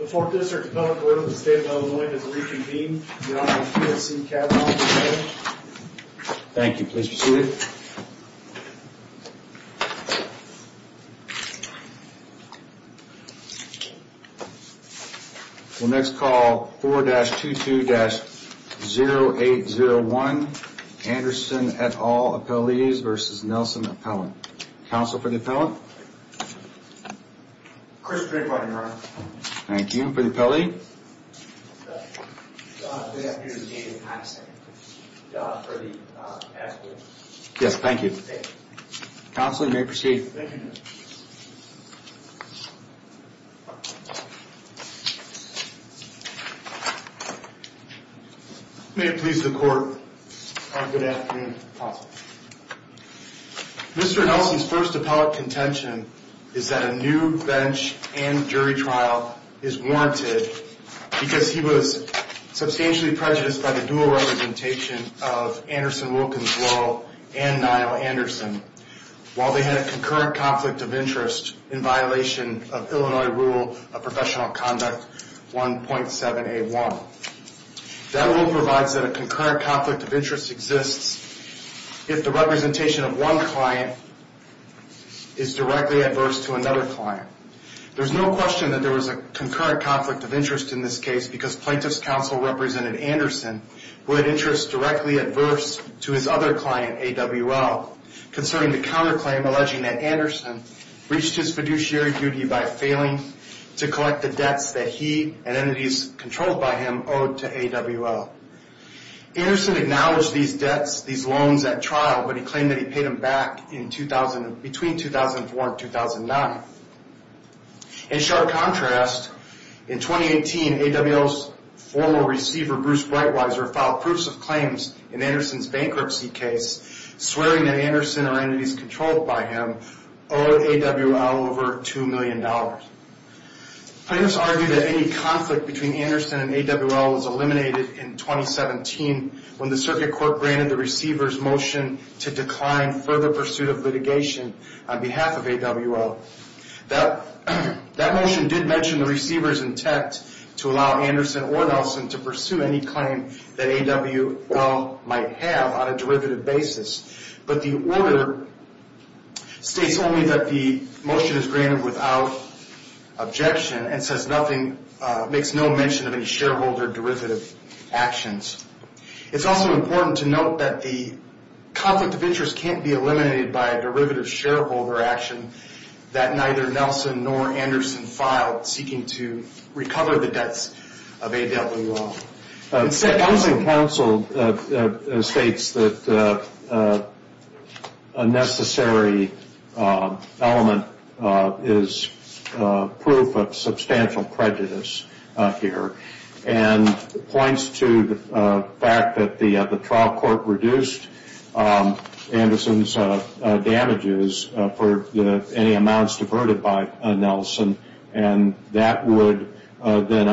The fourth district appellant to the state of Illinois has reconvened. Your Honor, I'm here to see Kavanaugh. Thank you. Please be seated. We'll next call 4-22-0801 Anderson et al. Appellees vs. Nelson Appellant. Counsel for the appellant. Chris Greenblatt, Your Honor. Thank you. For the appellee. John, good afternoon. David Patterson. John, for the appellant. Yes, thank you. Counsel, you may proceed. Thank you, Judge. May it please the Court. Good afternoon, Counsel. Mr. Nelson's first appellate contention is that a new bench and jury trial is warranted because he was substantially prejudiced by the dual representation of Anderson, Wilkins, Laurel, and Nile Anderson while they had a concurrent conflict of interest in violation of Illinois Rule of Professional Conduct 1.781. That rule provides that a concurrent conflict of interest exists if the representation of one client is directly adverse to another client. There's no question that there was a concurrent conflict of interest in this case because plaintiff's counsel represented Anderson who had interests directly adverse to his other client, AWL, concerning the counterclaim alleging that Anderson breached his fiduciary duty by failing to collect the debts that he and entities controlled by him owed to AWL. Anderson acknowledged these debts, these loans at trial, but he claimed that he paid them back between 2004 and 2009. In sharp contrast, in 2018, AWL's former receiver, Bruce Breitweiser, filed proofs of claims in Anderson's bankruptcy case swearing that Anderson or entities controlled by him owed AWL over $2 million. Plaintiffs argue that any conflict between Anderson and AWL was eliminated in 2017 when the circuit court granted the receiver's motion to decline further pursuit of litigation on behalf of AWL. That motion did mention the receiver's intent to allow Anderson or Nelson to pursue any claim that AWL might have on a derivative basis, but the order states only that the motion is granted without objection and makes no mention of any shareholder derivative actions. It's also important to note that the conflict of interest can't be eliminated by a derivative shareholder action that neither Nelson nor Anderson filed seeking to recover the debts of AWL. Nelson counsel states that a necessary element is proof of substantial prejudice here and points to the fact that the trial court reduced Anderson's damages for any amounts diverted by Nelson and that would then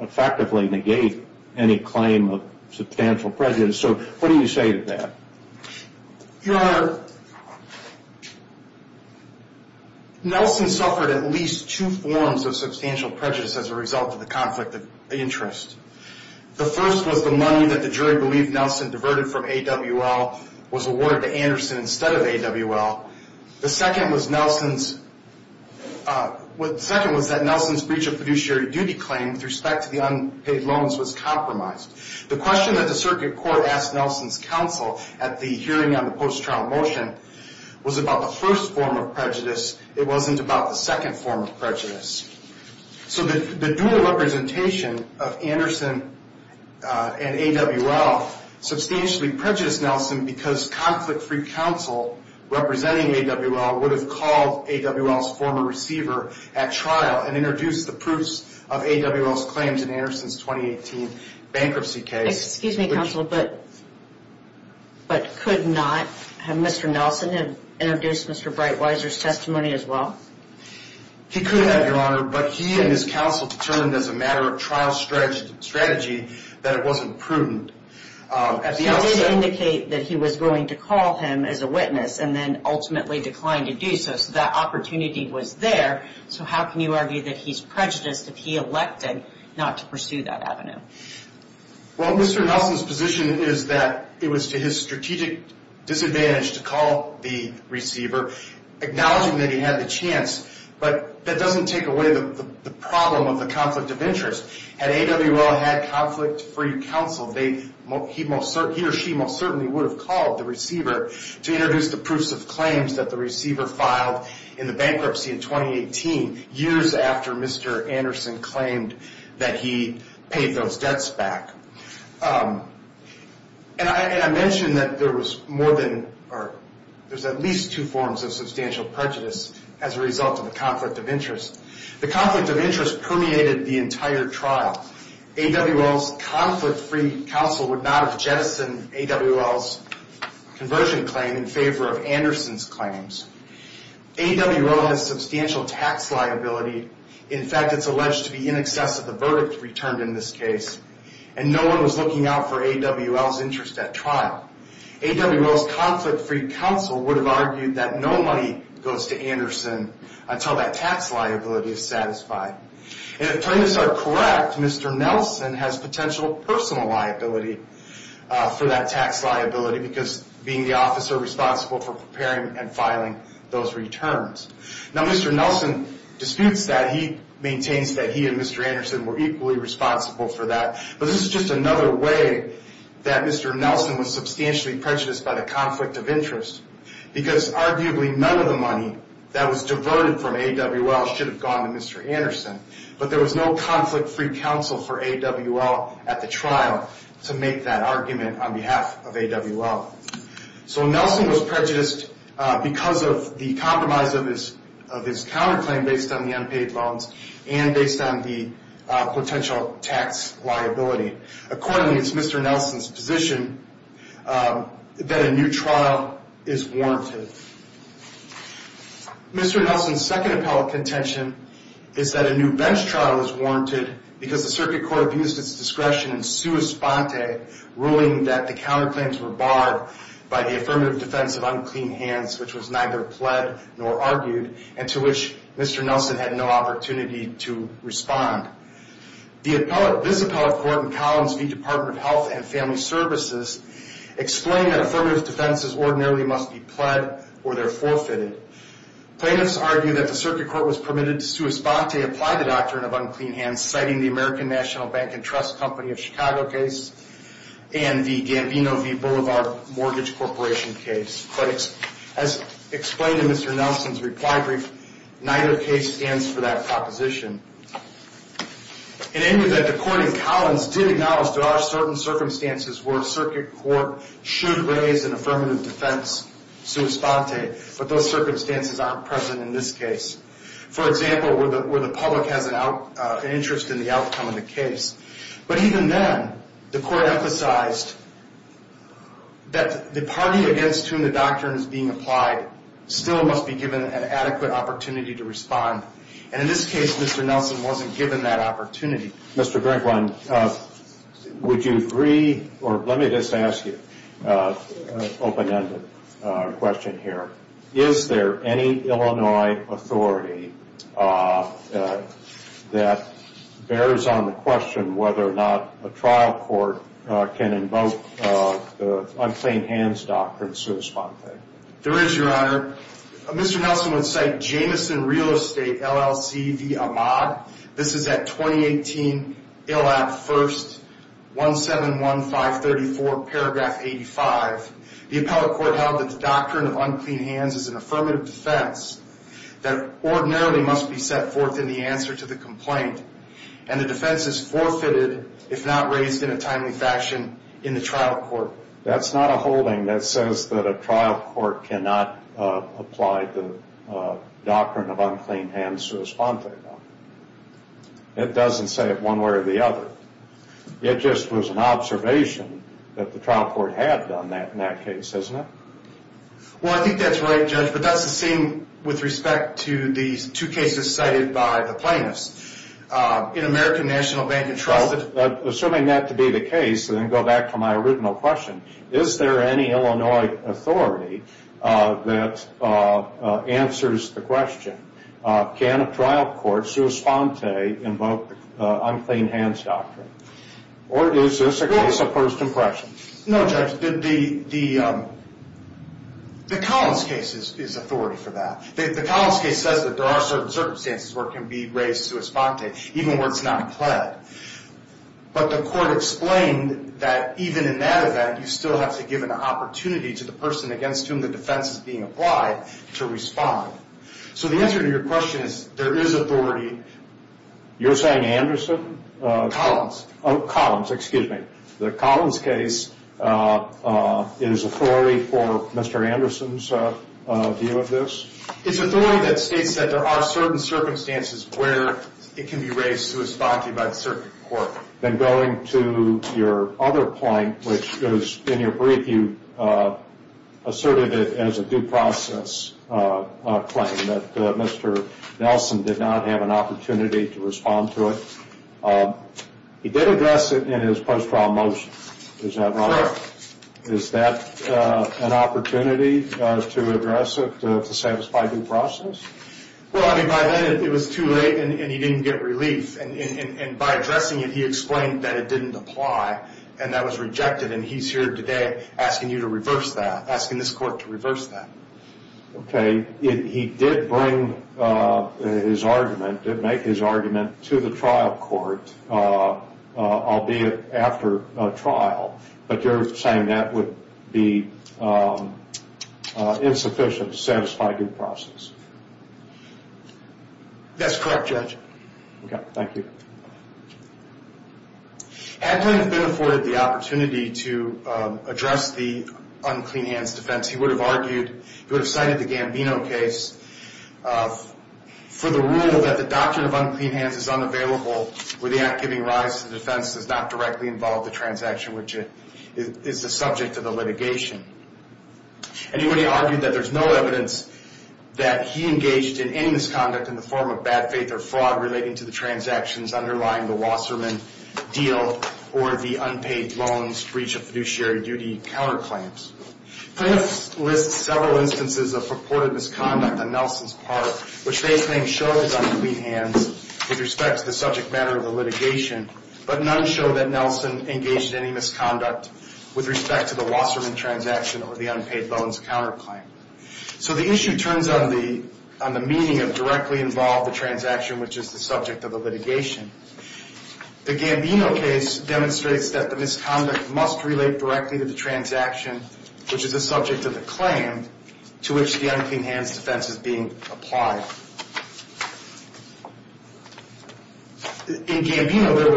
effectively negate any claim of substantial prejudice. So what do you say to that? Your Honor, Nelson suffered at least two forms of substantial prejudice as a result of the conflict of interest. The first was the money that the jury believed Nelson diverted from AWL was awarded to Anderson instead of AWL. The second was that Nelson's breach of fiduciary duty claim with respect to the unpaid loans was compromised. The question that the circuit court asked Nelson's counsel at the hearing on the post-trial motion was about the first form of prejudice. It wasn't about the second form of prejudice. So the dual representation of Anderson and AWL substantially prejudiced Nelson because conflict-free counsel representing AWL would have called AWL's former receiver at trial and introduced the proofs of AWL's claims in Anderson's 2018 bankruptcy case. Excuse me, counsel, but could not Mr. Nelson have introduced Mr. Breitweiser's testimony as well? He could have, Your Honor, but he and his counsel determined as a matter of trial strategy that it wasn't prudent. He did indicate that he was willing to call him as a witness and then ultimately declined to do so, so that opportunity was there. So how can you argue that he's prejudiced if he elected not to pursue that avenue? Well, Mr. Nelson's position is that it was to his strategic disadvantage to call the receiver, acknowledging that he had the chance. But that doesn't take away the problem of the conflict of interest. Had AWL had conflict-free counsel, he or she most certainly would have called the receiver to introduce the proofs of claims that the receiver filed in the bankruptcy in 2018, years after Mr. Anderson claimed that he paid those debts back. And I mentioned that there was more than or there's at least two forms of substantial prejudice as a result of the conflict of interest. The conflict of interest permeated the entire trial. AWL's conflict-free counsel would not have jettisoned AWL's conversion claim in favor of Anderson's claims. AWL has substantial tax liability. In fact, it's alleged to be in excess of the verdict returned in this case, and no one was looking out for AWL's interest at trial. AWL's conflict-free counsel would have argued that no money goes to Anderson until that tax liability is satisfied. And if claims are correct, Mr. Nelson has potential personal liability for that tax liability because being the officer responsible for preparing and filing those returns. Now, Mr. Nelson disputes that. He maintains that he and Mr. Anderson were equally responsible for that. But this is just another way that Mr. Nelson was substantially prejudiced by the conflict of interest because arguably none of the money that was diverted from AWL should have gone to Mr. Anderson. But there was no conflict-free counsel for AWL at the trial to make that argument on behalf of AWL. So Nelson was prejudiced because of the compromise of his counterclaim based on the unpaid loans and based on the potential tax liability. Accordingly, it's Mr. Nelson's position that a new trial is warranted. Mr. Nelson's second appellate contention is that a new bench trial is warranted because the circuit court abused its discretion in sua sponte, ruling that the counterclaims were barred by the affirmative defense of unclean hands, which was neither pled nor argued, and to which Mr. Nelson had no opportunity to respond. This appellate court in Columns v. Department of Health and Family Services explained that affirmative defenses ordinarily must be pled or they're forfeited. Plaintiffs argue that the circuit court was permitted to sua sponte, apply the doctrine of unclean hands, citing the American National Bank and Trust Company of Chicago case and the Gambino v. Boulevard Mortgage Corporation case. But as explained in Mr. Nelson's reply brief, neither case stands for that proposition. In any event, the court in Collins did acknowledge there are certain circumstances where a circuit court should raise an affirmative defense sua sponte, but those circumstances aren't present in this case. For example, where the public has an interest in the outcome of the case. But even then, the court emphasized that the party against whom the doctrine is being applied still must be given an adequate opportunity to respond. And in this case, Mr. Nelson wasn't given that opportunity. Mr. Greenblatt, would you agree, or let me just ask you an open-ended question here. Is there any Illinois authority that bears on the question whether or not a trial court can invoke the unclean hands doctrine sua sponte? There is, Your Honor. Mr. Nelson would cite Jameson Real Estate LLC v. Amag. This is at 2018 ILAP 1-171534, paragraph 85. The appellate court held that the doctrine of unclean hands is an affirmative defense that ordinarily must be set forth in the answer to the complaint, and the defense is forfeited if not raised in a timely fashion in the trial court. That's not a holding that says that a trial court cannot apply the doctrine of unclean hands sua sponte. It doesn't say it one way or the other. It just was an observation that the trial court had done that in that case, isn't it? Well, I think that's right, Judge. But that's the same with respect to these two cases cited by the plaintiffs. In American National Bank and Trusted. Assuming that to be the case, and then go back to my original question, is there any Illinois authority that answers the question, can a trial court sua sponte invoke the unclean hands doctrine? Or is this a case of first impression? No, Judge. The Collins case is authority for that. The Collins case says that there are certain circumstances where it can be raised sua sponte, even where it's not pled. But the court explained that even in that event, you still have to give an opportunity to the person against whom the defense is being applied to respond. So the answer to your question is there is authority. You're saying Anderson? Collins. Oh, Collins. Excuse me. The Collins case is authority for Mr. Anderson's view of this? It's authority that states that there are certain circumstances where it can be raised sua sponte by the circuit court. Then going to your other point, which is in your brief you asserted it as a due process claim, that Mr. Nelson did not have an opportunity to respond to it. He did address it in his post-trial motion. Is that right? Sure. Is that an opportunity to address it to satisfy due process? Well, I mean, by then it was too late and he didn't get relief. And by addressing it, he explained that it didn't apply and that was rejected. And he's here today asking you to reverse that, asking this court to reverse that. Okay. He did bring his argument, did make his argument to the trial court, albeit after trial. But you're saying that would be insufficient to satisfy due process? That's correct, Judge. Okay. Thank you. Had Glenn been afforded the opportunity to address the unclean hands defense, he would have argued, he would have cited the Gambino case for the rule that the doctrine of unclean hands is unavailable where the act giving rise to the defense does not directly involve the transaction, which is the subject of the litigation. And he would have argued that there's no evidence that he engaged in any misconduct in the form of bad faith or fraud relating to the transactions underlying the Wasserman deal or the unpaid loans breach of fiduciary duty counterclaims. This lists several instances of purported misconduct on Nelson's part, which face names show his unclean hands with respect to the subject matter of the litigation, but none show that Nelson engaged in any misconduct with respect to the Wasserman transaction or the unpaid loans counterclaim. So the issue turns on the meaning of directly involved the transaction, which is the subject of the litigation. The Gambino case demonstrates that the misconduct must relate directly to the transaction, which is the subject of the claim to which the unclean hands defense is being applied. In Gambino, there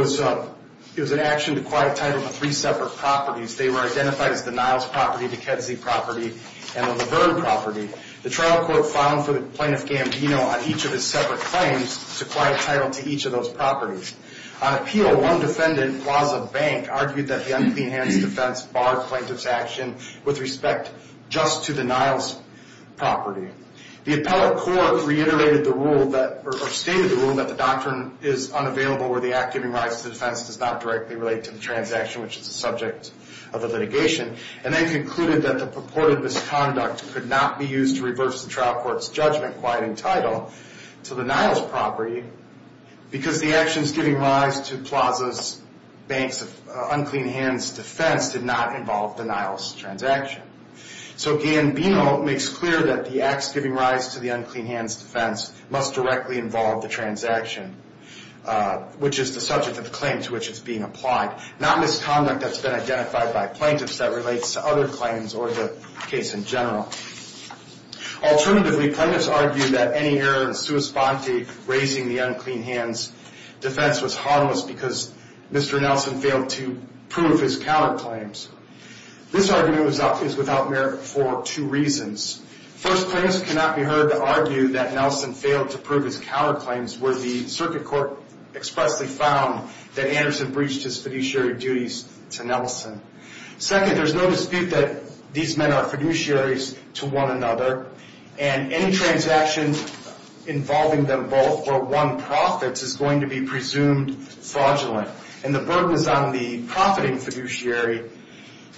was an action to quiet title to three separate properties. They were identified as the Niles property, the Kedzie property, and the La Verne property. The trial court filed for the plaintiff Gambino on each of his separate claims to quiet title to each of those properties. On appeal, one defendant, Plaza Bank, argued that the unclean hands defense barred plaintiff's action with respect just to the Niles property. The appellate court reiterated the rule, or stated the rule, that the doctrine is unavailable, where the act giving rise to defense does not directly relate to the transaction, which is the subject of the litigation, and then concluded that the purported misconduct could not be used to reverse the trial court's judgment quieting title to the Niles property, because the actions giving rise to Plaza Bank's unclean hands defense did not involve the Niles transaction. So Gambino makes clear that the acts giving rise to the unclean hands defense must directly involve the transaction, which is the subject of the claim to which it's being applied, not misconduct that's been identified by plaintiffs that relates to other claims or the case in general. Alternatively, plaintiffs argued that any error in sua sponte raising the unclean hands defense was harmless because Mr. Nelson failed to prove his counterclaims. This argument is without merit for two reasons. First, plaintiffs cannot be heard to argue that Nelson failed to prove his counterclaims, where the circuit court expressly found that Anderson breached his fiduciary duties to Nelson. Second, there's no dispute that these men are fiduciaries to one another, and any transaction involving them both or one profits is going to be presumed fraudulent, and the burden is on the profiting fiduciary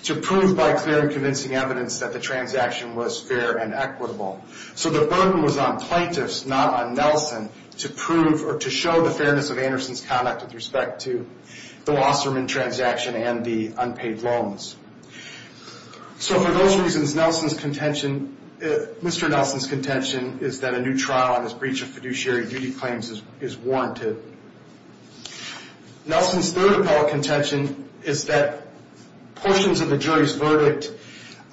to prove by clear and convincing evidence that the transaction was fair and equitable. So the burden was on plaintiffs, not on Nelson, to prove or to show the fairness of Anderson's conduct with respect to the Wasserman transaction and the unpaid loans. So for those reasons, Mr. Nelson's contention is that a new trial on his breach of fiduciary duty claims is warranted. Nelson's third appellate contention is that portions of the jury's verdict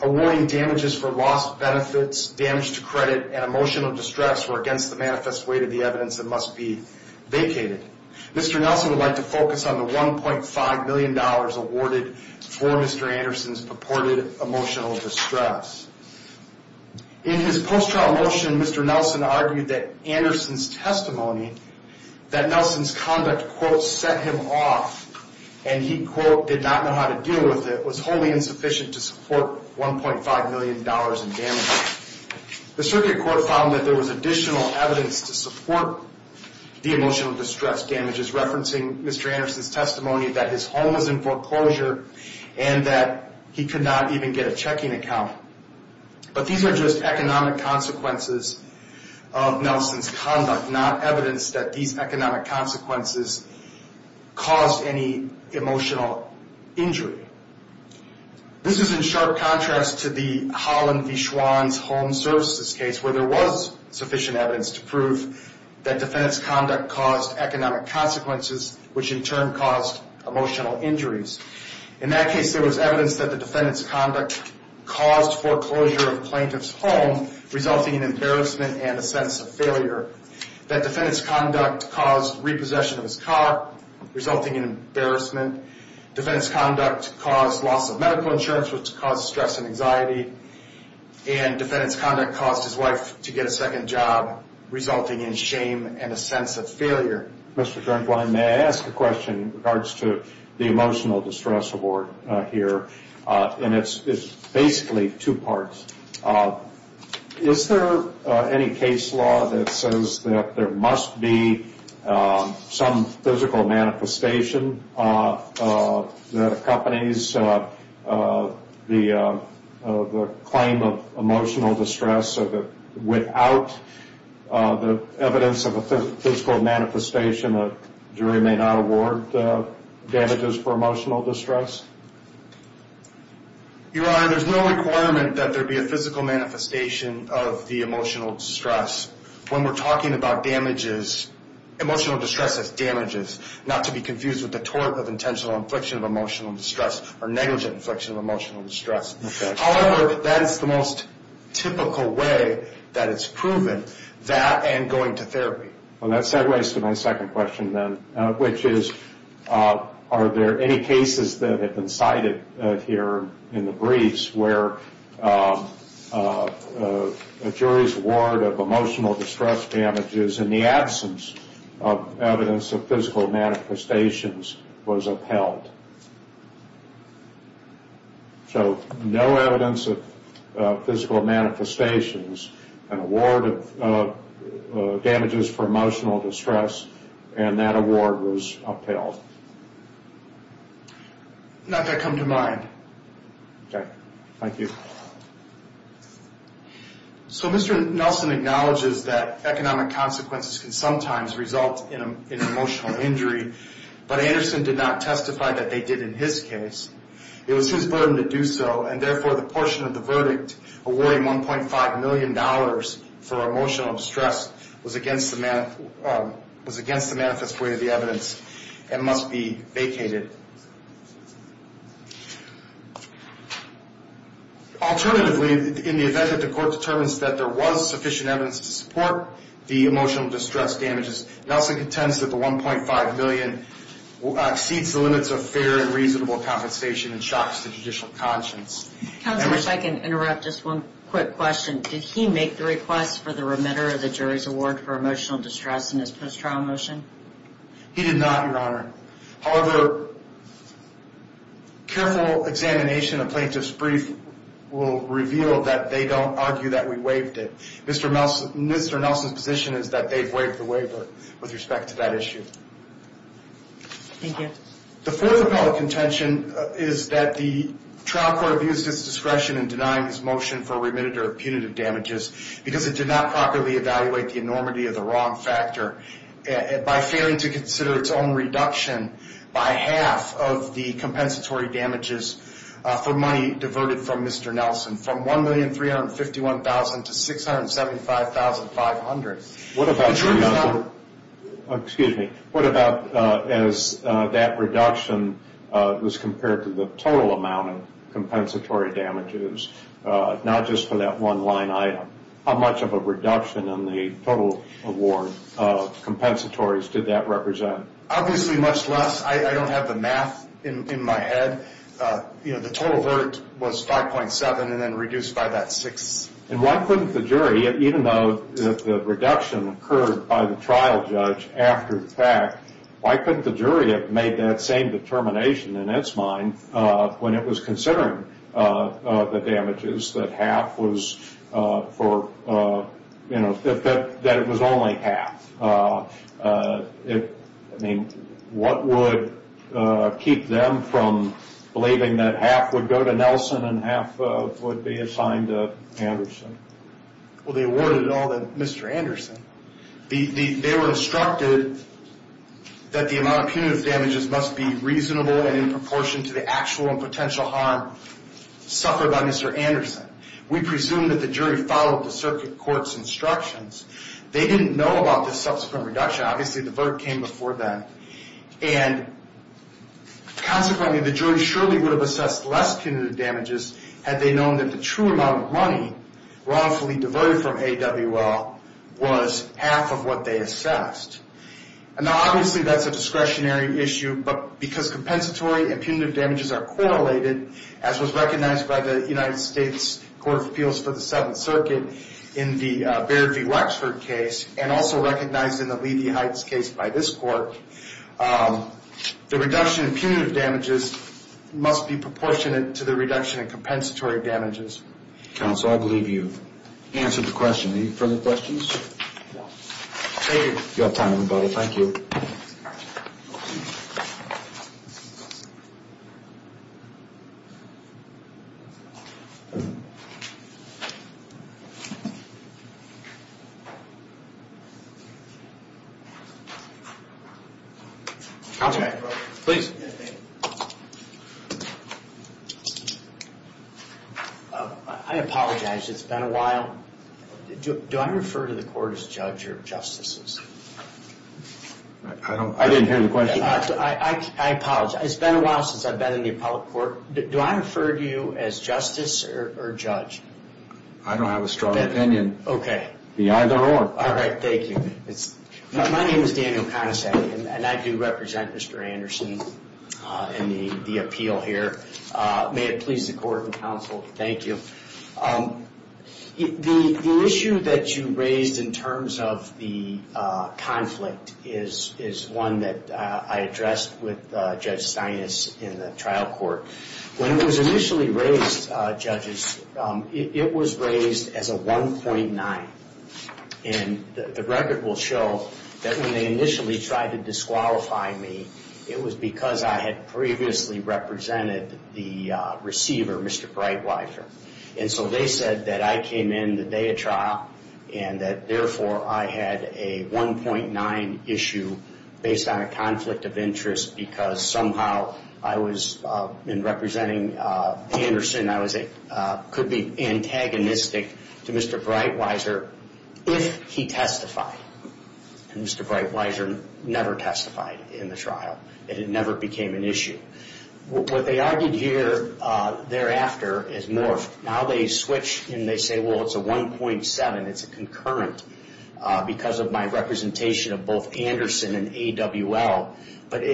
awarding damages for lost benefits, damage to credit, and emotional distress were against the manifest weight of the evidence that must be vacated. Mr. Nelson would like to focus on the $1.5 million awarded for Mr. Anderson's purported emotional distress. In his post-trial motion, Mr. Nelson argued that Anderson's testimony, that Nelson's conduct, quote, set him off, and he, quote, did not know how to deal with it, was wholly insufficient to support $1.5 million in damages. The circuit court found that there was additional evidence to support the emotional distress damages, referencing Mr. Anderson's testimony that his home was in foreclosure and that he could not even get a checking account. But these are just economic consequences of Nelson's conduct, not evidence that these economic consequences caused any emotional injury. This is in sharp contrast to the Holland v. Schwann's home services case, where there was sufficient evidence to prove that defendant's conduct caused economic consequences, which in turn caused emotional injuries. In that case, there was evidence that the defendant's conduct caused foreclosure of the plaintiff's home, resulting in embarrassment and a sense of failure. That defendant's conduct caused repossession of his car, resulting in embarrassment. Defendant's conduct caused loss of medical insurance, which caused stress and anxiety. And defendant's conduct caused his wife to get a second job, resulting in shame and a sense of failure. May I ask a question in regards to the emotional distress award here? And it's basically two parts. Is there any case law that says that there must be some physical manifestation that accompanies the claim of emotional distress so that without the evidence of a physical manifestation, a jury may not award damages for emotional distress? Your Honor, there's no requirement that there be a physical manifestation of the emotional distress. When we're talking about damages, emotional distress is damages, not to be confused with the tort of intentional infliction of emotional distress or negligent infliction of emotional distress. However, that is the most typical way that it's proven, that and going to therapy. Well, that segues to my second question then, which is, are there any cases that have been cited here in the briefs where a jury's award of emotional distress damages in the absence of evidence of physical manifestations was upheld? So no evidence of physical manifestations, an award of damages for emotional distress, and that award was upheld. Not that come to mind. Okay. Thank you. So Mr. Nelson acknowledges that economic consequences can sometimes result in emotional injury, but Anderson did not testify that they did in his case. It was his burden to do so, and therefore the portion of the verdict awarding $1.5 million for emotional distress was against the manifest way of the evidence and must be vacated. Alternatively, in the event that the court determines that there was sufficient evidence to support the emotional distress damages, Nelson contends that the $1.5 million exceeds the limits of fair and reasonable compensation and shocks the judicial conscience. Counsel, if I can interrupt just one quick question. Did he make the request for the remitter of the jury's award for emotional distress in his post-trial motion? He did not, Your Honor. However, careful examination of plaintiff's brief will reveal that they don't argue that we waived it. Mr. Nelson's position is that they've waived the waiver with respect to that issue. Thank you. The fourth appellate contention is that the trial court abused its discretion in denying his motion for remitter of punitive damages because it did not properly evaluate the enormity of the wrong factor. By failing to consider its own reduction by half of the compensatory damages for money diverted from Mr. Nelson, from $1,351,000 to $675,500. What about as that reduction was compared to the total amount of compensatory damages, not just for that one line item? How much of a reduction in the total award compensatories did that represent? Obviously much less. The total verdict was 5.7 and then reduced by that 6. And why couldn't the jury, even though the reduction occurred by the trial judge after the fact, why couldn't the jury have made that same determination in its mind when it was considering the damages, that half was for, you know, that it was only half? I mean, what would keep them from believing that half would go to Nelson and half would be assigned to Anderson? Well, they awarded it all to Mr. Anderson. They were instructed that the amount of punitive damages must be reasonable and in proportion to the actual and potential harm suffered by Mr. Anderson. We presume that the jury followed the circuit court's instructions. They didn't know about this subsequent reduction. Obviously the verdict came before that. And consequently the jury surely would have assessed less punitive damages had they known that the true amount of money wrongfully devoted from AWL was half of what they assessed. And now obviously that's a discretionary issue, but because compensatory and punitive damages are correlated, as was recognized by the United States Court of Appeals for the Seventh Circuit in the Baird v. Wexford case and also recognized in the Levy Heights case by this court, the reduction in punitive damages must be proportionate to the reduction in compensatory damages. Counsel, I believe you've answered the question. Any further questions? No. Thank you. You have time, everybody. Thank you. Okay. Please. I apologize. It's been a while. Do I refer to the court as judge or justices? I didn't hear the question. I apologize. It's been a while since I've been in the appellate court. Do I refer to you as justice or judge? I don't have a strong opinion. Okay. Be either or. All right. Thank you. My name is Daniel Conestag, and I do represent Mr. Anderson in the appeal here. May it please the court and counsel, thank you. The issue that you raised in terms of the conflict is one that I addressed with Judge Steinis in the trial court. When it was initially raised, judges, it was raised as a 1.9. And the record will show that when they initially tried to disqualify me, it was because I had previously represented the receiver, Mr. Breitweiser. And so they said that I came in the day of trial and that therefore I had a 1.9 issue based on a conflict of interest because somehow I was in representing Anderson, I could be antagonistic to Mr. Breitweiser if he testified. And Mr. Breitweiser never testified in the trial. It never became an issue. What they argued here thereafter is more of now they switch and they say, well, it's a 1.7. It's a concurrent because of my representation of both Anderson and AWL. But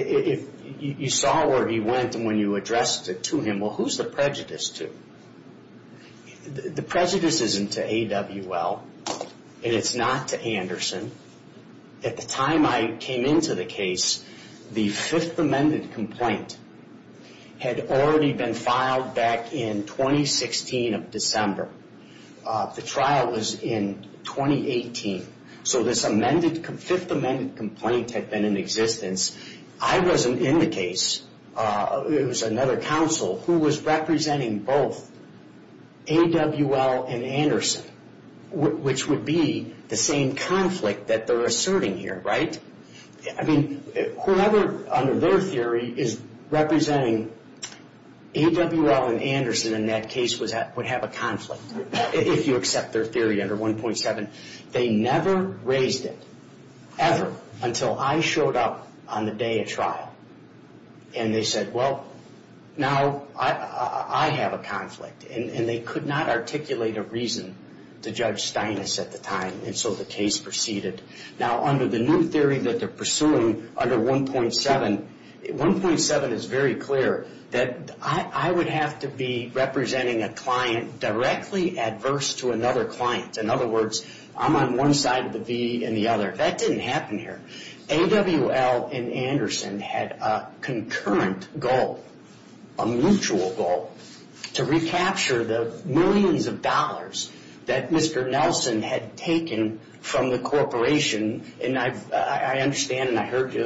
you saw where he went when you addressed it to him. Well, who's the prejudice to? The prejudice isn't to AWL, and it's not to Anderson. At the time I came into the case, the Fifth Amendment complaint had already been filed back in 2016 of December. The trial was in 2018. So this Fifth Amendment complaint had been in existence. I wasn't in the case. It was another counsel who was representing both AWL and Anderson, which would be the same conflict that they're asserting here, right? I mean, whoever under their theory is representing AWL and Anderson in that case would have a conflict, if you accept their theory under 1.7. They never raised it, ever, until I showed up on the day of trial. And they said, well, now I have a conflict. And they could not articulate a reason to Judge Steinis at the time, and so the case proceeded. Now, under the new theory that they're pursuing under 1.7, 1.7 is very clear that I would have to be representing a client directly adverse to another client. In other words, I'm on one side of the V in the other. That didn't happen here. AWL and Anderson had a concurrent goal, a mutual goal, to recapture the millions of dollars that Mr. Nelson had taken from the corporation. And I understand and I heard you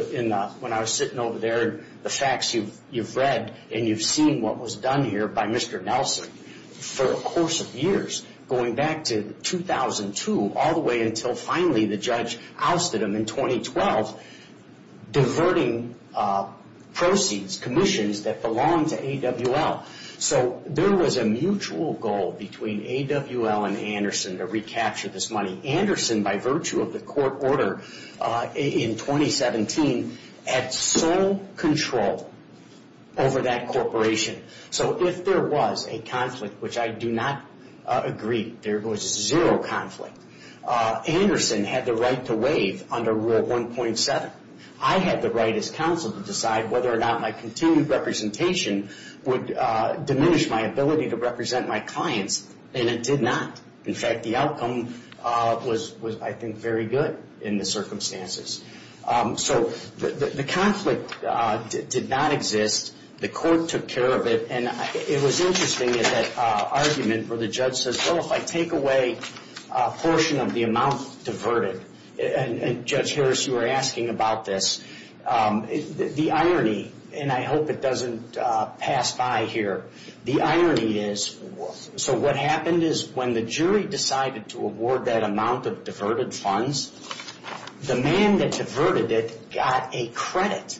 when I was sitting over there, the facts you've read and you've seen what was done here by Mr. Nelson. For a course of years, going back to 2002, all the way until finally the judge ousted him in 2012, diverting proceeds, commissions that belonged to AWL. So there was a mutual goal between AWL and Anderson to recapture this money. Anderson, by virtue of the court order in 2017, had sole control over that corporation. So if there was a conflict, which I do not agree, there was zero conflict, Anderson had the right to waive under Rule 1.7. I had the right as counsel to decide whether or not my continued representation would diminish my ability to represent my clients, and it did not. In fact, the outcome was, I think, very good in the circumstances. So the conflict did not exist. The court took care of it, and it was interesting in that argument where the judge says, well, if I take away a portion of the amount diverted, and Judge Harris, you were asking about this, the irony, and I hope it doesn't pass by here, the irony is, so what happened is when the jury decided to award that amount of diverted funds, the man that diverted it got a credit.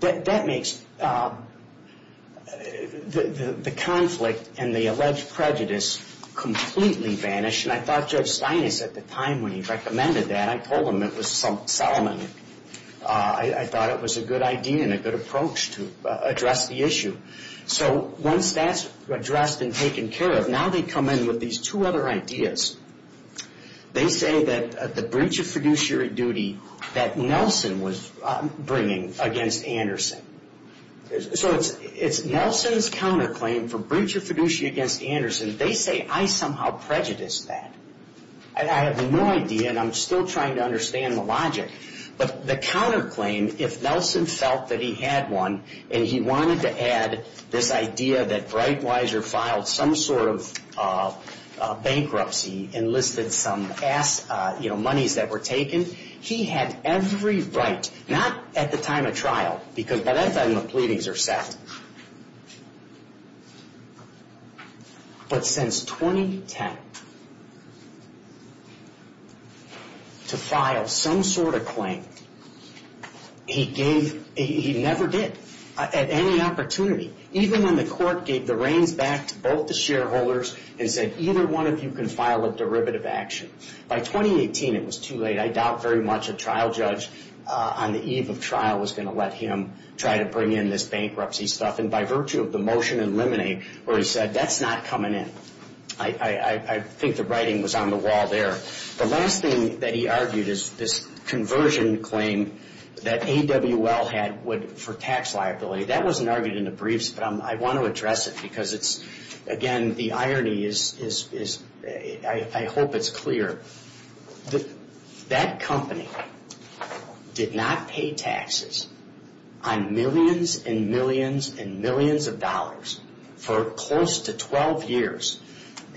That makes the conflict and the alleged prejudice completely vanish, and I thought Judge Steinis at the time when he recommended that, I told him it was Solomon. I thought it was a good idea and a good approach to address the issue. So once that's addressed and taken care of, now they come in with these two other ideas. They say that the breach of fiduciary duty that Nelson was bringing against Anderson, so it's Nelson's counterclaim for breach of fiduciary duty against Anderson. They say I somehow prejudiced that. I have no idea, and I'm still trying to understand the logic, but the counterclaim, if Nelson felt that he had one, and he wanted to add this idea that Breitweiser filed some sort of bankruptcy and listed some monies that were taken, he had every right, not at the time of trial, because by that time the pleadings are set, but since 2010, to file some sort of claim, he never did at any opportunity, even when the court gave the reins back to both the shareholders and said either one of you can file a derivative action. By 2018, it was too late. I doubt very much a trial judge on the eve of trial was going to let him try to bring in this bankruptcy. And by virtue of the motion in limine where he said that's not coming in, I think the writing was on the wall there. The last thing that he argued is this conversion claim that AWL had for tax liability. That wasn't argued in the briefs, but I want to address it because it's, again, the irony is I hope it's clear. That company did not pay taxes on millions and millions and millions of dollars for close to 12 years.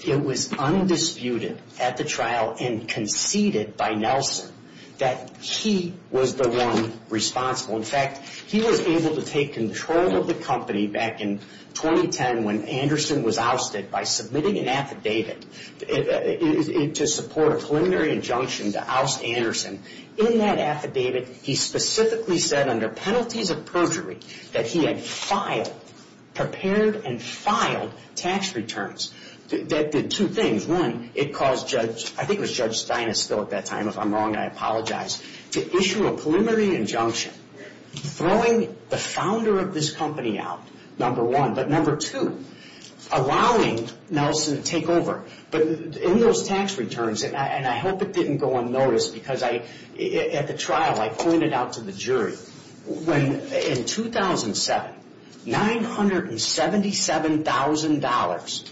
It was undisputed at the trial and conceded by Nelson that he was the one responsible. In fact, he was able to take control of the company back in 2010 when Anderson was ousted by submitting an affidavit to support a preliminary injunction to oust Anderson. In that affidavit, he specifically said under penalties of perjury that he had filed, prepared and filed tax returns. That did two things. One, it caused Judge, I think it was Judge Steinesville at that time, if I'm wrong, I apologize, to issue a preliminary injunction throwing the founder of this company out, number one. But number two, allowing Nelson to take over. But in those tax returns, and I hope it didn't go unnoticed because at the trial, I pointed out to the jury, in 2007, $977,000,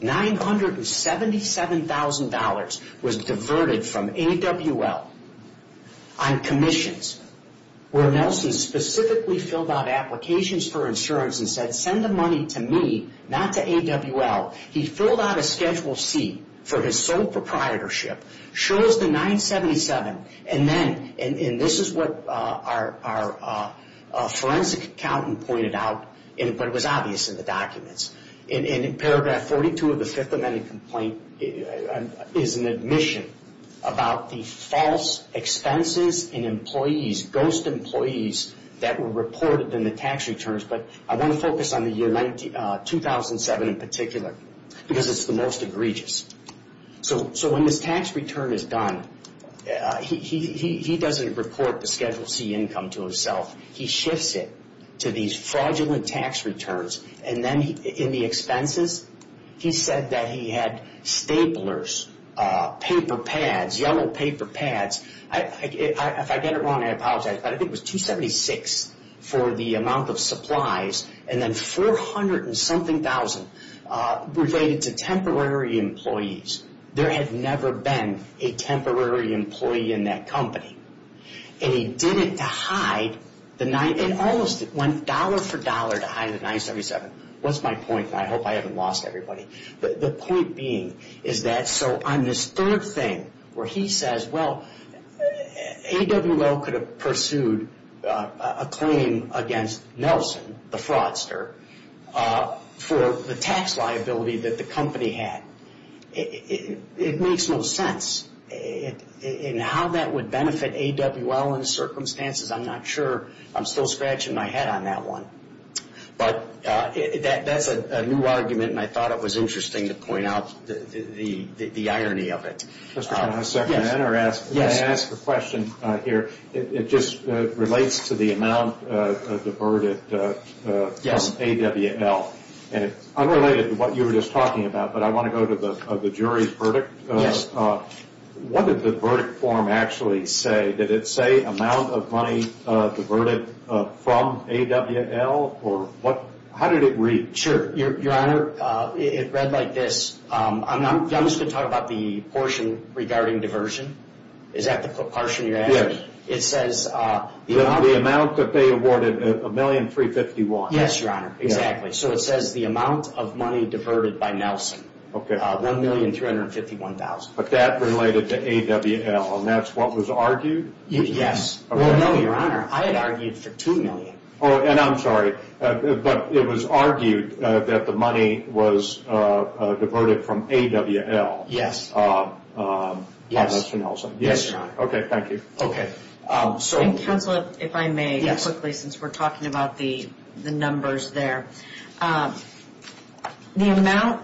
$977,000 was diverted from AWL on commissions where Nelson specifically filled out applications for insurance and said, send the money to me, not to AWL. He filled out a Schedule C for his sole proprietorship, shows the $977,000, and this is what our forensic accountant pointed out, but it was obvious in the documents. In paragraph 42 of the Fifth Amendment complaint is an admission about the false expenses and employees, ghost employees that were reported in the tax returns. But I want to focus on the year 2007 in particular because it's the most egregious. So when this tax return is done, he doesn't report the Schedule C income to himself. He shifts it to these fraudulent tax returns. And then in the expenses, he said that he had staplers, paper pads, yellow paper pads. If I get it wrong, I apologize, but I think it was $276,000 for the amount of supplies and then $400,000-something related to temporary employees. There had never been a temporary employee in that company. And he did it to hide the $977,000. What's my point? I hope I haven't lost everybody. The point being is that so on this third thing where he says, well, AWL could have pursued a claim against Nelson, the fraudster, for the tax liability that the company had. It makes no sense. And how that would benefit AWL in the circumstances, I'm not sure. I'm still scratching my head on that one. But that's a new argument, and I thought it was interesting to point out the irony of it. Can I ask a question here? It just relates to the amount diverted from AWL. It's unrelated to what you were just talking about, but I want to go to the jury's verdict. Yes. What did the verdict form actually say? Did it say amount of money diverted from AWL? How did it read? Sure. Your Honor, it read like this. I'm just going to talk about the portion regarding diversion. Is that the portion you're asking? Yes. It says the amount that they awarded, $1,351,000. Yes, Your Honor. Exactly. So it says the amount of money diverted by Nelson, $1,351,000. But that related to AWL, and that's what was argued? Yes. Well, no, Your Honor. I had argued for $2 million. And I'm sorry, but it was argued that the money was diverted from AWL. Yes. By Mr. Nelson. Yes, Your Honor. Okay, thank you. Okay. Counsel, if I may, quickly, since we're talking about the numbers there. The amount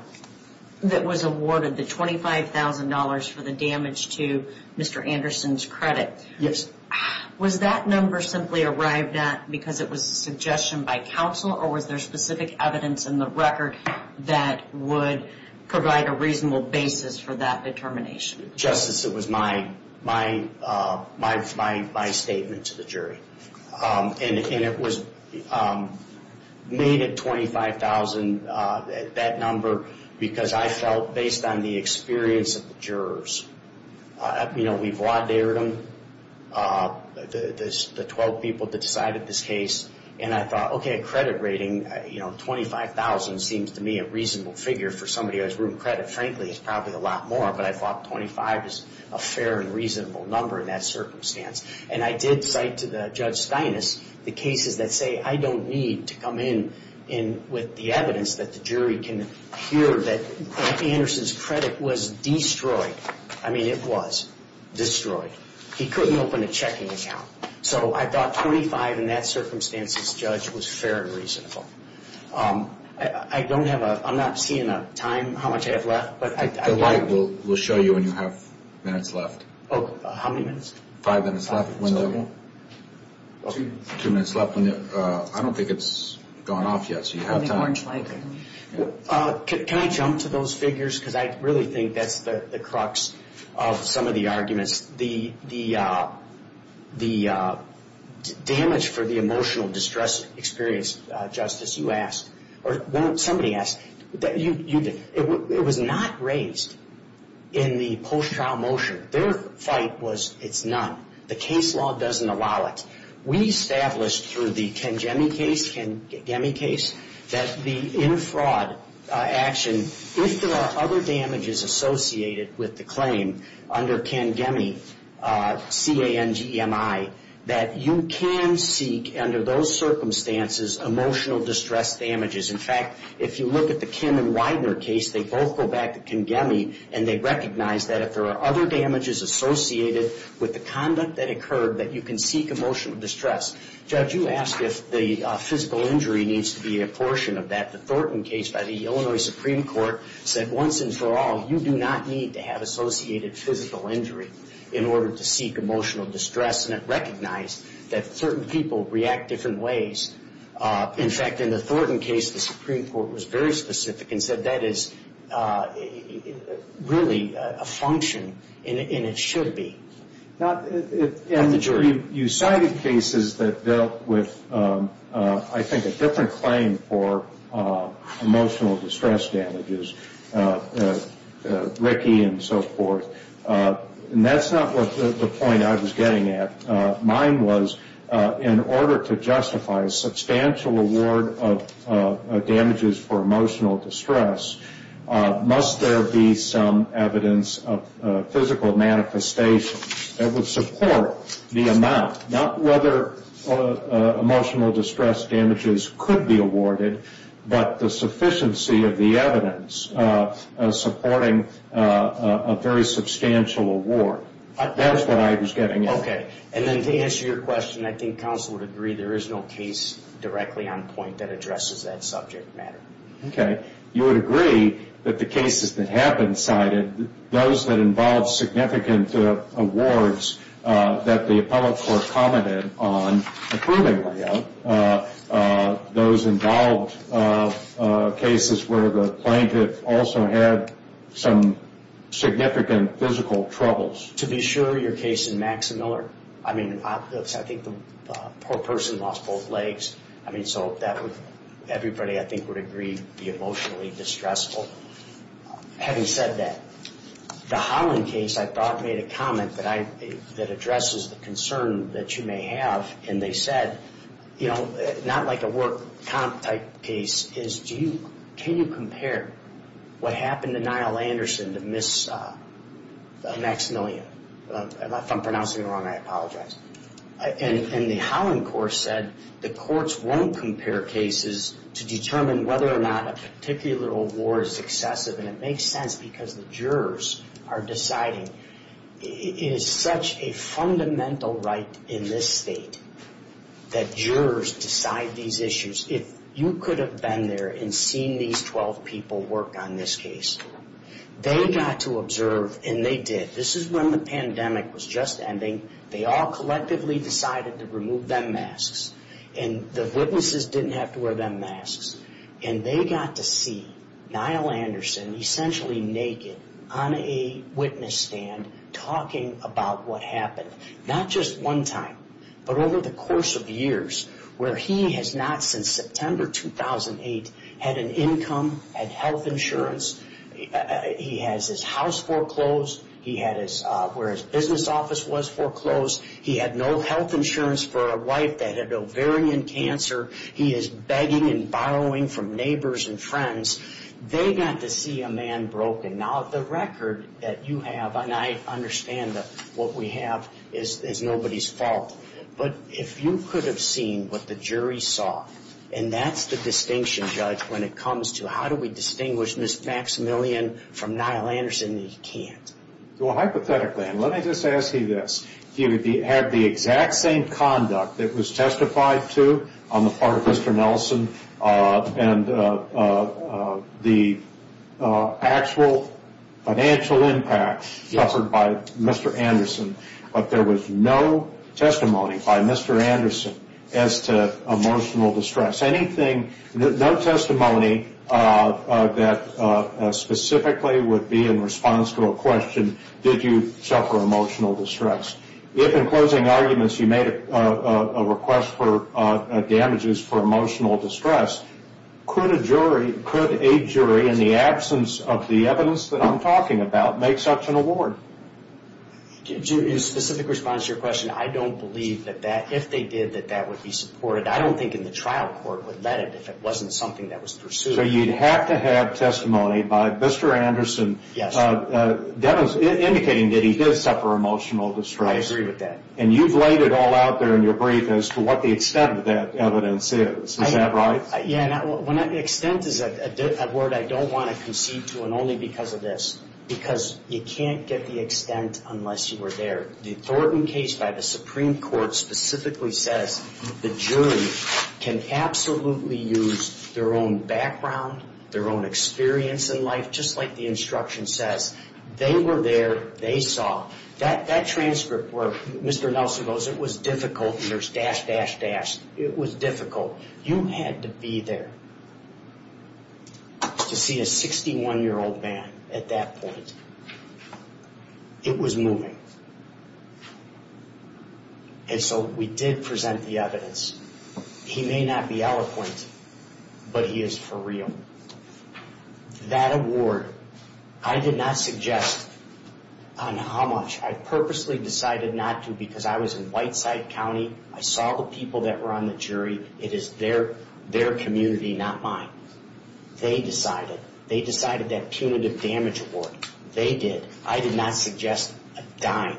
that was awarded, the $25,000 for the damage to Mr. Anderson's credit. Yes. Was that number simply arrived at because it was a suggestion by counsel, or was there specific evidence in the record that would provide a reasonable basis for that determination? Justice, it was my statement to the jury. And it was made at $25,000, that number, because I felt based on the experience of the jurors. You know, we've law dared them, the 12 people that decided this case. And I thought, okay, a credit rating, you know, $25,000 seems to me a reasonable figure for somebody who has room credit. Frankly, it's probably a lot more, but I thought $25,000 is a fair and reasonable number in that circumstance. And I did cite to Judge Steinis the cases that say, I don't need to come in with the evidence that the jury can hear that Andy Anderson's credit was destroyed. I mean, it was destroyed. He couldn't open a checking account. So I thought $25,000 in that circumstance as judge was fair and reasonable. I don't have a – I'm not seeing a time, how much I have left. The light will show you when you have minutes left. Oh, how many minutes? Five minutes left. Two minutes left. I don't think it's gone off yet, so you have time. Can I jump to those figures? Because I really think that's the crux of some of the arguments. The damage for the emotional distress experience, Justice, you asked, or somebody asked, it was not raised in the post-trial motion. Their fight was it's not. The case law doesn't allow it. We established through the Ken Gemme case that the inner fraud action, if there are other damages associated with the claim under Ken Gemme, C-A-N-G-M-I, that you can seek under those circumstances emotional distress damages. In fact, if you look at the Kim and Widener case, they both go back to Ken Gemme, and they recognize that if there are other damages associated with the conduct that occurred, that you can seek emotional distress. Judge, you asked if the physical injury needs to be a portion of that. The Thornton case by the Illinois Supreme Court said once and for all, you do not need to have associated physical injury in order to seek emotional distress, and it recognized that certain people react different ways. In fact, in the Thornton case, the Supreme Court was very specific and said that is really a function, and it should be. You cited cases that dealt with, I think, a different claim for emotional distress damages, Ricky and so forth. That's not the point I was getting at. Mine was in order to justify a substantial award of damages for emotional distress, must there be some evidence of physical manifestation that would support the amount, not whether emotional distress damages could be awarded, but the sufficiency of the evidence supporting a very substantial award. That's what I was getting at. Okay, and then to answer your question, I think counsel would agree there is no case directly on point that addresses that subject matter. Okay. You would agree that the cases that have been cited, those that involve significant awards that the appellate court commented on approving layout, those involved cases where the plaintiff also had some significant physical troubles. To be sure, your case in Max Miller, I mean, I think the poor person lost both legs. I mean, so everybody, I think, would agree be emotionally distressful. Having said that, the Holland case I thought made a comment that addresses the concern that you may have, and they said, you know, not like a work comp type case, is can you compare what happened to Niall Anderson to Miss Maximilian? If I'm pronouncing it wrong, I apologize. And the Holland court said the courts won't compare cases to determine whether or not a particular award is excessive, and it makes sense because the jurors are deciding. It is such a fundamental right in this state that jurors decide these issues. If you could have been there and seen these 12 people work on this case, they got to observe, and they did. This is when the pandemic was just ending. They all collectively decided to remove them masks, and the witnesses didn't have to wear them masks, and they got to see Niall Anderson essentially naked on a witness stand talking about what happened, not just one time, but over the course of years, where he has not since September 2008 had an income, had health insurance. He has his house foreclosed. He had where his business office was foreclosed. He had no health insurance for a wife that had ovarian cancer. He is begging and borrowing from neighbors and friends. They got to see a man broken. Now, the record that you have, and I understand that what we have is nobody's fault, but if you could have seen what the jury saw, and that's the distinction, Judge, when it comes to how do we distinguish Ms. Maximilian from Niall Anderson, you can't. Well, hypothetically, and let me just ask you this. He had the exact same conduct that was testified to on the part of Mr. Nelson but there was no testimony by Mr. Anderson as to emotional distress. No testimony that specifically would be in response to a question, did you suffer emotional distress. If, in closing arguments, you made a request for damages for emotional distress, could a jury, in the absence of the evidence that I'm talking about, make such an award? Your specific response to your question, I don't believe that if they did, that that would be supported. I don't think in the trial court would let it if it wasn't something that was pursued. So you'd have to have testimony by Mr. Anderson indicating that he did suffer emotional distress. I agree with that. And you've laid it all out there in your brief as to what the extent of that evidence is. Is that right? Yeah, and extent is a word I don't want to concede to and only because of this. Because you can't get the extent unless you were there. The Thornton case by the Supreme Court specifically says the jury can absolutely use their own background, their own experience in life, just like the instruction says. They were there, they saw. That transcript where Mr. Nelson goes, it was difficult, and there's dash, dash, dash, it was difficult. You had to be there to see a 61-year-old man at that point. It was moving. And so we did present the evidence. He may not be eloquent, but he is for real. That award, I did not suggest on how much. I purposely decided not to because I was in Whiteside County. I saw the people that were on the jury. It is their community, not mine. They decided. They decided that punitive damage award. They did. I did not suggest a dime.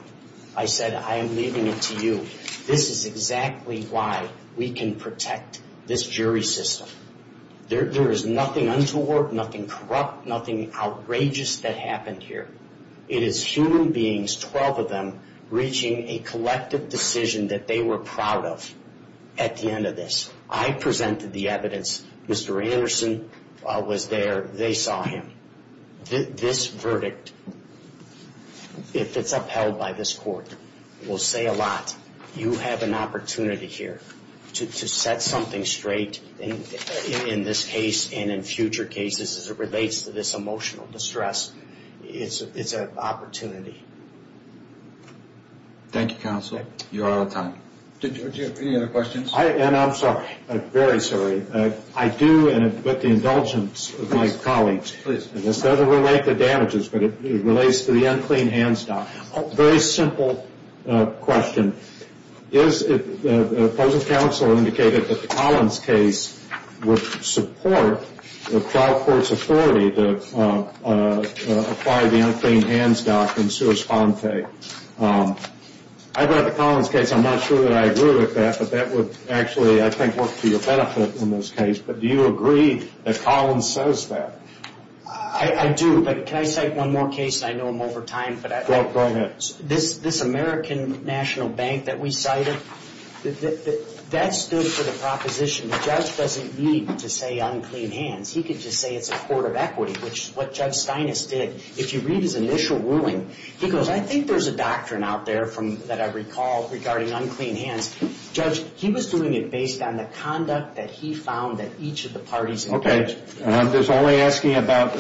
I said, I am leaving it to you. This is exactly why we can protect this jury system. There is nothing untoward, nothing corrupt, nothing outrageous that happened here. It is human beings, 12 of them, reaching a collective decision that they were proud of at the end of this. I presented the evidence. Mr. Anderson was there. They saw him. This verdict, if it's upheld by this court, will say a lot. You have an opportunity here to set something straight in this case and in future cases as it relates to this emotional distress. It's an opportunity. Thank you, counsel. You are out of time. Do you have any other questions? I'm sorry. I'm very sorry. I do, and with the indulgence of my colleagues. Please. This doesn't relate to damages, but it relates to the unclean hands down. Very simple question. The opposing counsel indicated that the Collins case would support the trial court's authority to apply the unclean hands doctrine sua sponte. I read the Collins case. I'm not sure that I agree with that, but that would actually, I think, work to your benefit in this case. But do you agree that Collins says that? I do, but can I cite one more case? I know I'm over time. Go ahead. This American National Bank that we cited, that stood for the proposition. The judge doesn't need to say unclean hands. He could just say it's a court of equity, which is what Judge Steinis did. If you read his initial ruling, he goes, I think there's a doctrine out there that I recall regarding unclean hands. Judge, he was doing it based on the conduct that he found that each of the parties engaged in. Okay. I'm just only asking about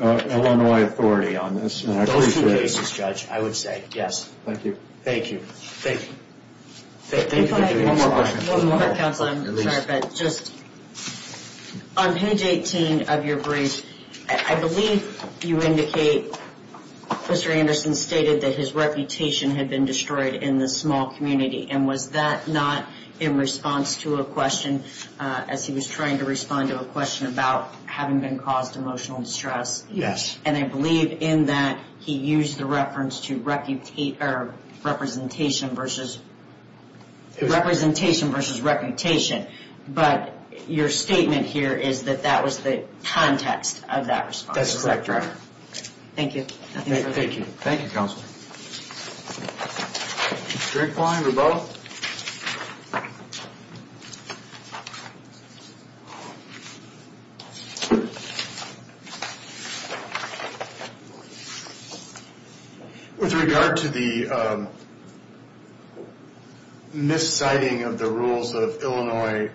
Illinois authority on this. Those two cases, Judge, I would say yes. Thank you. Thank you. Thank you. One more question. One more. Counsel, I'm sorry, but just on page 18 of your brief, I believe you indicate Mr. Anderson stated that his reputation had been destroyed in the small community. And was that not in response to a question as he was trying to respond to a question about having been caused emotional distress? Yes. And I believe in that he used the reference to representation versus reputation. But your statement here is that that was the context of that response. That's correct, Your Honor. Thank you. Thank you, Counsel. Drink blind or both? With regard to the misciting of the rules of Illinois,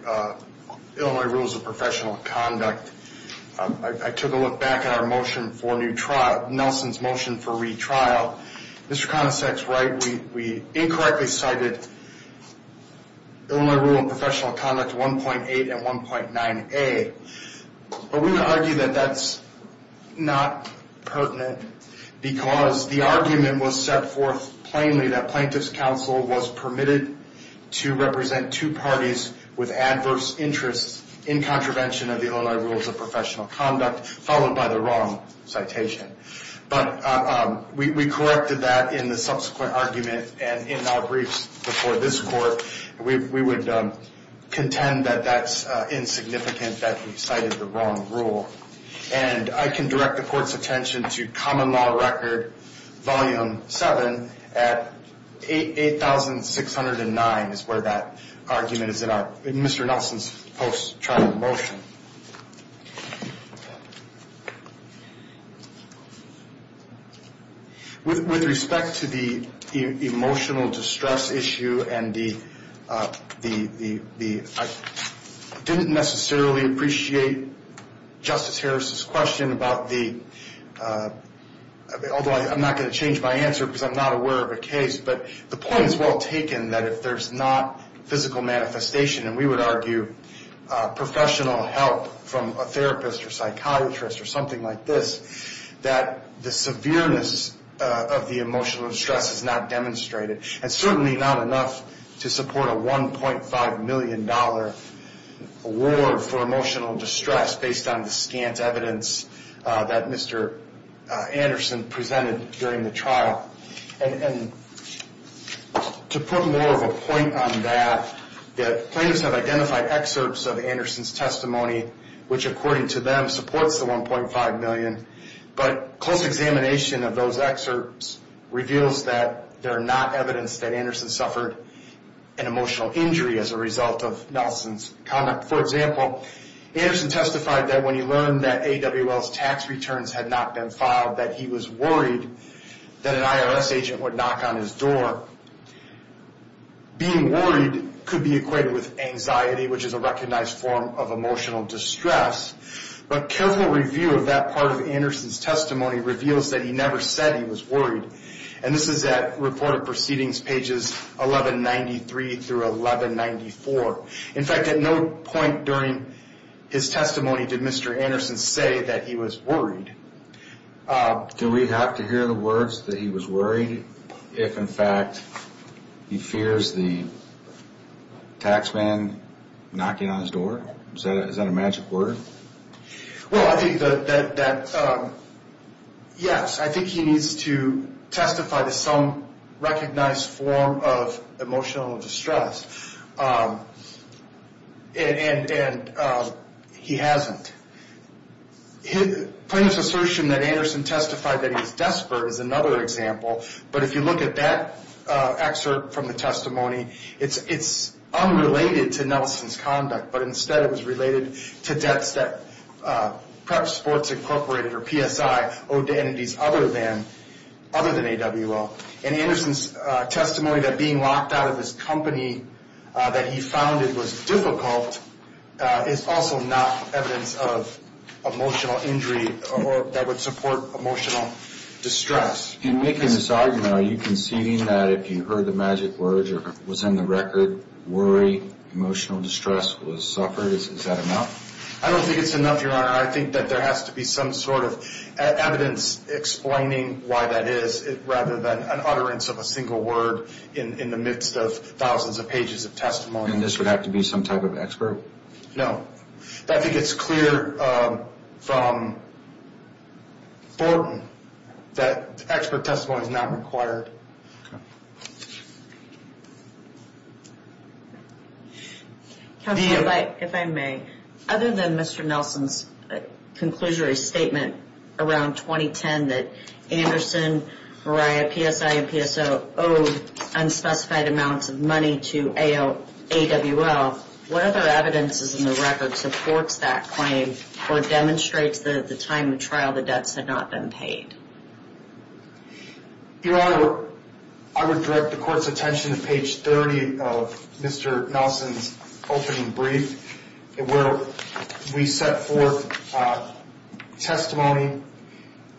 Illinois rules of professional conduct, I took a look back at our motion for new trial, Nelson's motion for retrial. Mr. Conasec's right, we incorrectly cited Illinois rule of professional conduct 1.8 and 1.9a. But we would argue that that's not pertinent because the argument was set forth plainly that plaintiff's counsel was permitted to represent two parties with adverse interests in contravention of the Illinois rules of professional conduct, followed by the wrong citation. But we corrected that in the subsequent argument and in our briefs before this court. We would contend that that's insignificant, that we cited the wrong rule. And I can direct the court's attention to Common Law Record Volume 7 at 8609 is where that argument is in our Mr. Nelson's post-trial motion. With respect to the emotional distress issue and the, I didn't necessarily appreciate Justice Harris's question about the, although I'm not going to change my answer because I'm not aware of a case, but the point is well taken that if there's not physical manifestation, and we would argue professional help from a therapist or psychiatrist or something like this, that the severeness of the emotional distress is not demonstrated. And certainly not enough to support a $1.5 million award for emotional distress based on the scant evidence that Mr. Anderson presented during the trial. And to put more of a point on that, the plaintiffs have identified excerpts of Anderson's testimony, which according to them supports the $1.5 million. But close examination of those excerpts reveals that they're not evidence that Anderson suffered an emotional injury as a result of Nelson's conduct. For example, Anderson testified that when he learned that AWL's tax returns had not been filed, that he was worried that an IRS agent would knock on his door. Being worried could be equated with anxiety, which is a recognized form of emotional distress. But careful review of that part of Anderson's testimony reveals that he never said he was worried. And this is at reported proceedings pages 1193 through 1194. In fact, at no point during his testimony did Mr. Anderson say that he was worried. Do we have to hear the words that he was worried if, in fact, he fears the tax man knocking on his door? Is that a magic word? Well, I think that, yes, I think he needs to testify to some recognized form of emotional distress. And he hasn't. Plaintiff's assertion that Anderson testified that he's desperate is another example. But if you look at that excerpt from the testimony, it's unrelated to Nelson's conduct. But instead it was related to debts that Prep Sports Incorporated, or PSI, owed to entities other than AWL. And Anderson's testimony that being locked out of this company that he founded was difficult is also not evidence of emotional injury that would support emotional distress. In making this argument, are you conceding that if you heard the magic words or was in the record, worry, emotional distress, was suffered? Is that enough? I don't think it's enough, Your Honor. I think that there has to be some sort of evidence explaining why that is rather than an utterance of a single word in the midst of thousands of pages of testimony. And this would have to be some type of expert? No. I think it's clear from Thornton that expert testimony is not required. Counselor, if I may. Other than Mr. Nelson's conclusory statement around 2010 that Anderson, Mariah, PSI, and PSO owed unspecified amounts of money to AWL, what other evidence is in the record supports that claim or demonstrates that at the time of the trial the debts had not been paid? Your Honor, I would direct the court's attention to page 30 of Mr. Nelson's opening brief where we set forth testimony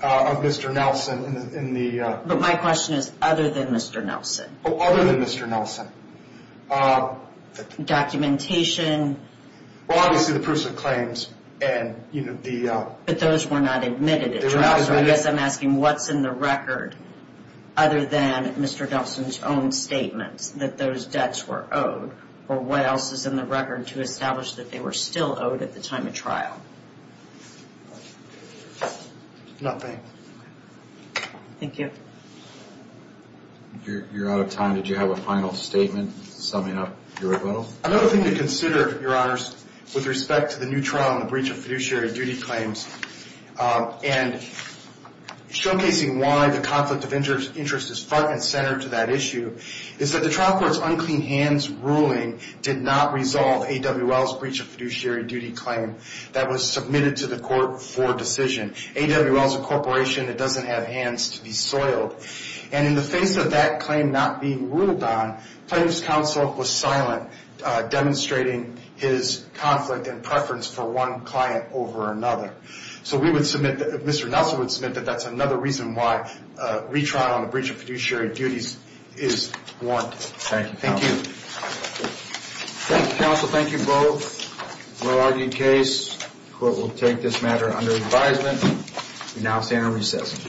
of Mr. Nelson. But my question is other than Mr. Nelson. Other than Mr. Nelson. Documentation. Well, obviously the proofs of claims. But those were not admitted. I guess I'm asking what's in the record other than Mr. Nelson's own statements that those debts were owed? Or what else is in the record to establish that they were still owed at the time of trial? Nothing. Thank you. You're out of time. Did you have a final statement summing up your rebuttal? Another thing to consider, Your Honors, with respect to the new trial and the breach of fiduciary duty claims and showcasing why the conflict of interest is front and center to that issue, is that the trial court's unclean hands ruling did not resolve AWL's breach of fiduciary duty claim that was submitted to the court for decision. AWL is a corporation that doesn't have hands to be soiled. And in the face of that claim not being ruled on, plaintiff's counsel was silent, demonstrating his conflict and preference for one client over another. So we would submit, Mr. Nelson would submit, that that's another reason why retrial on the breach of fiduciary duties is warranted. Thank you, counsel. Thank you. Thank you, counsel. Thank you both. Well-argued case. Court will take this matter under advisement. We now stand on recess.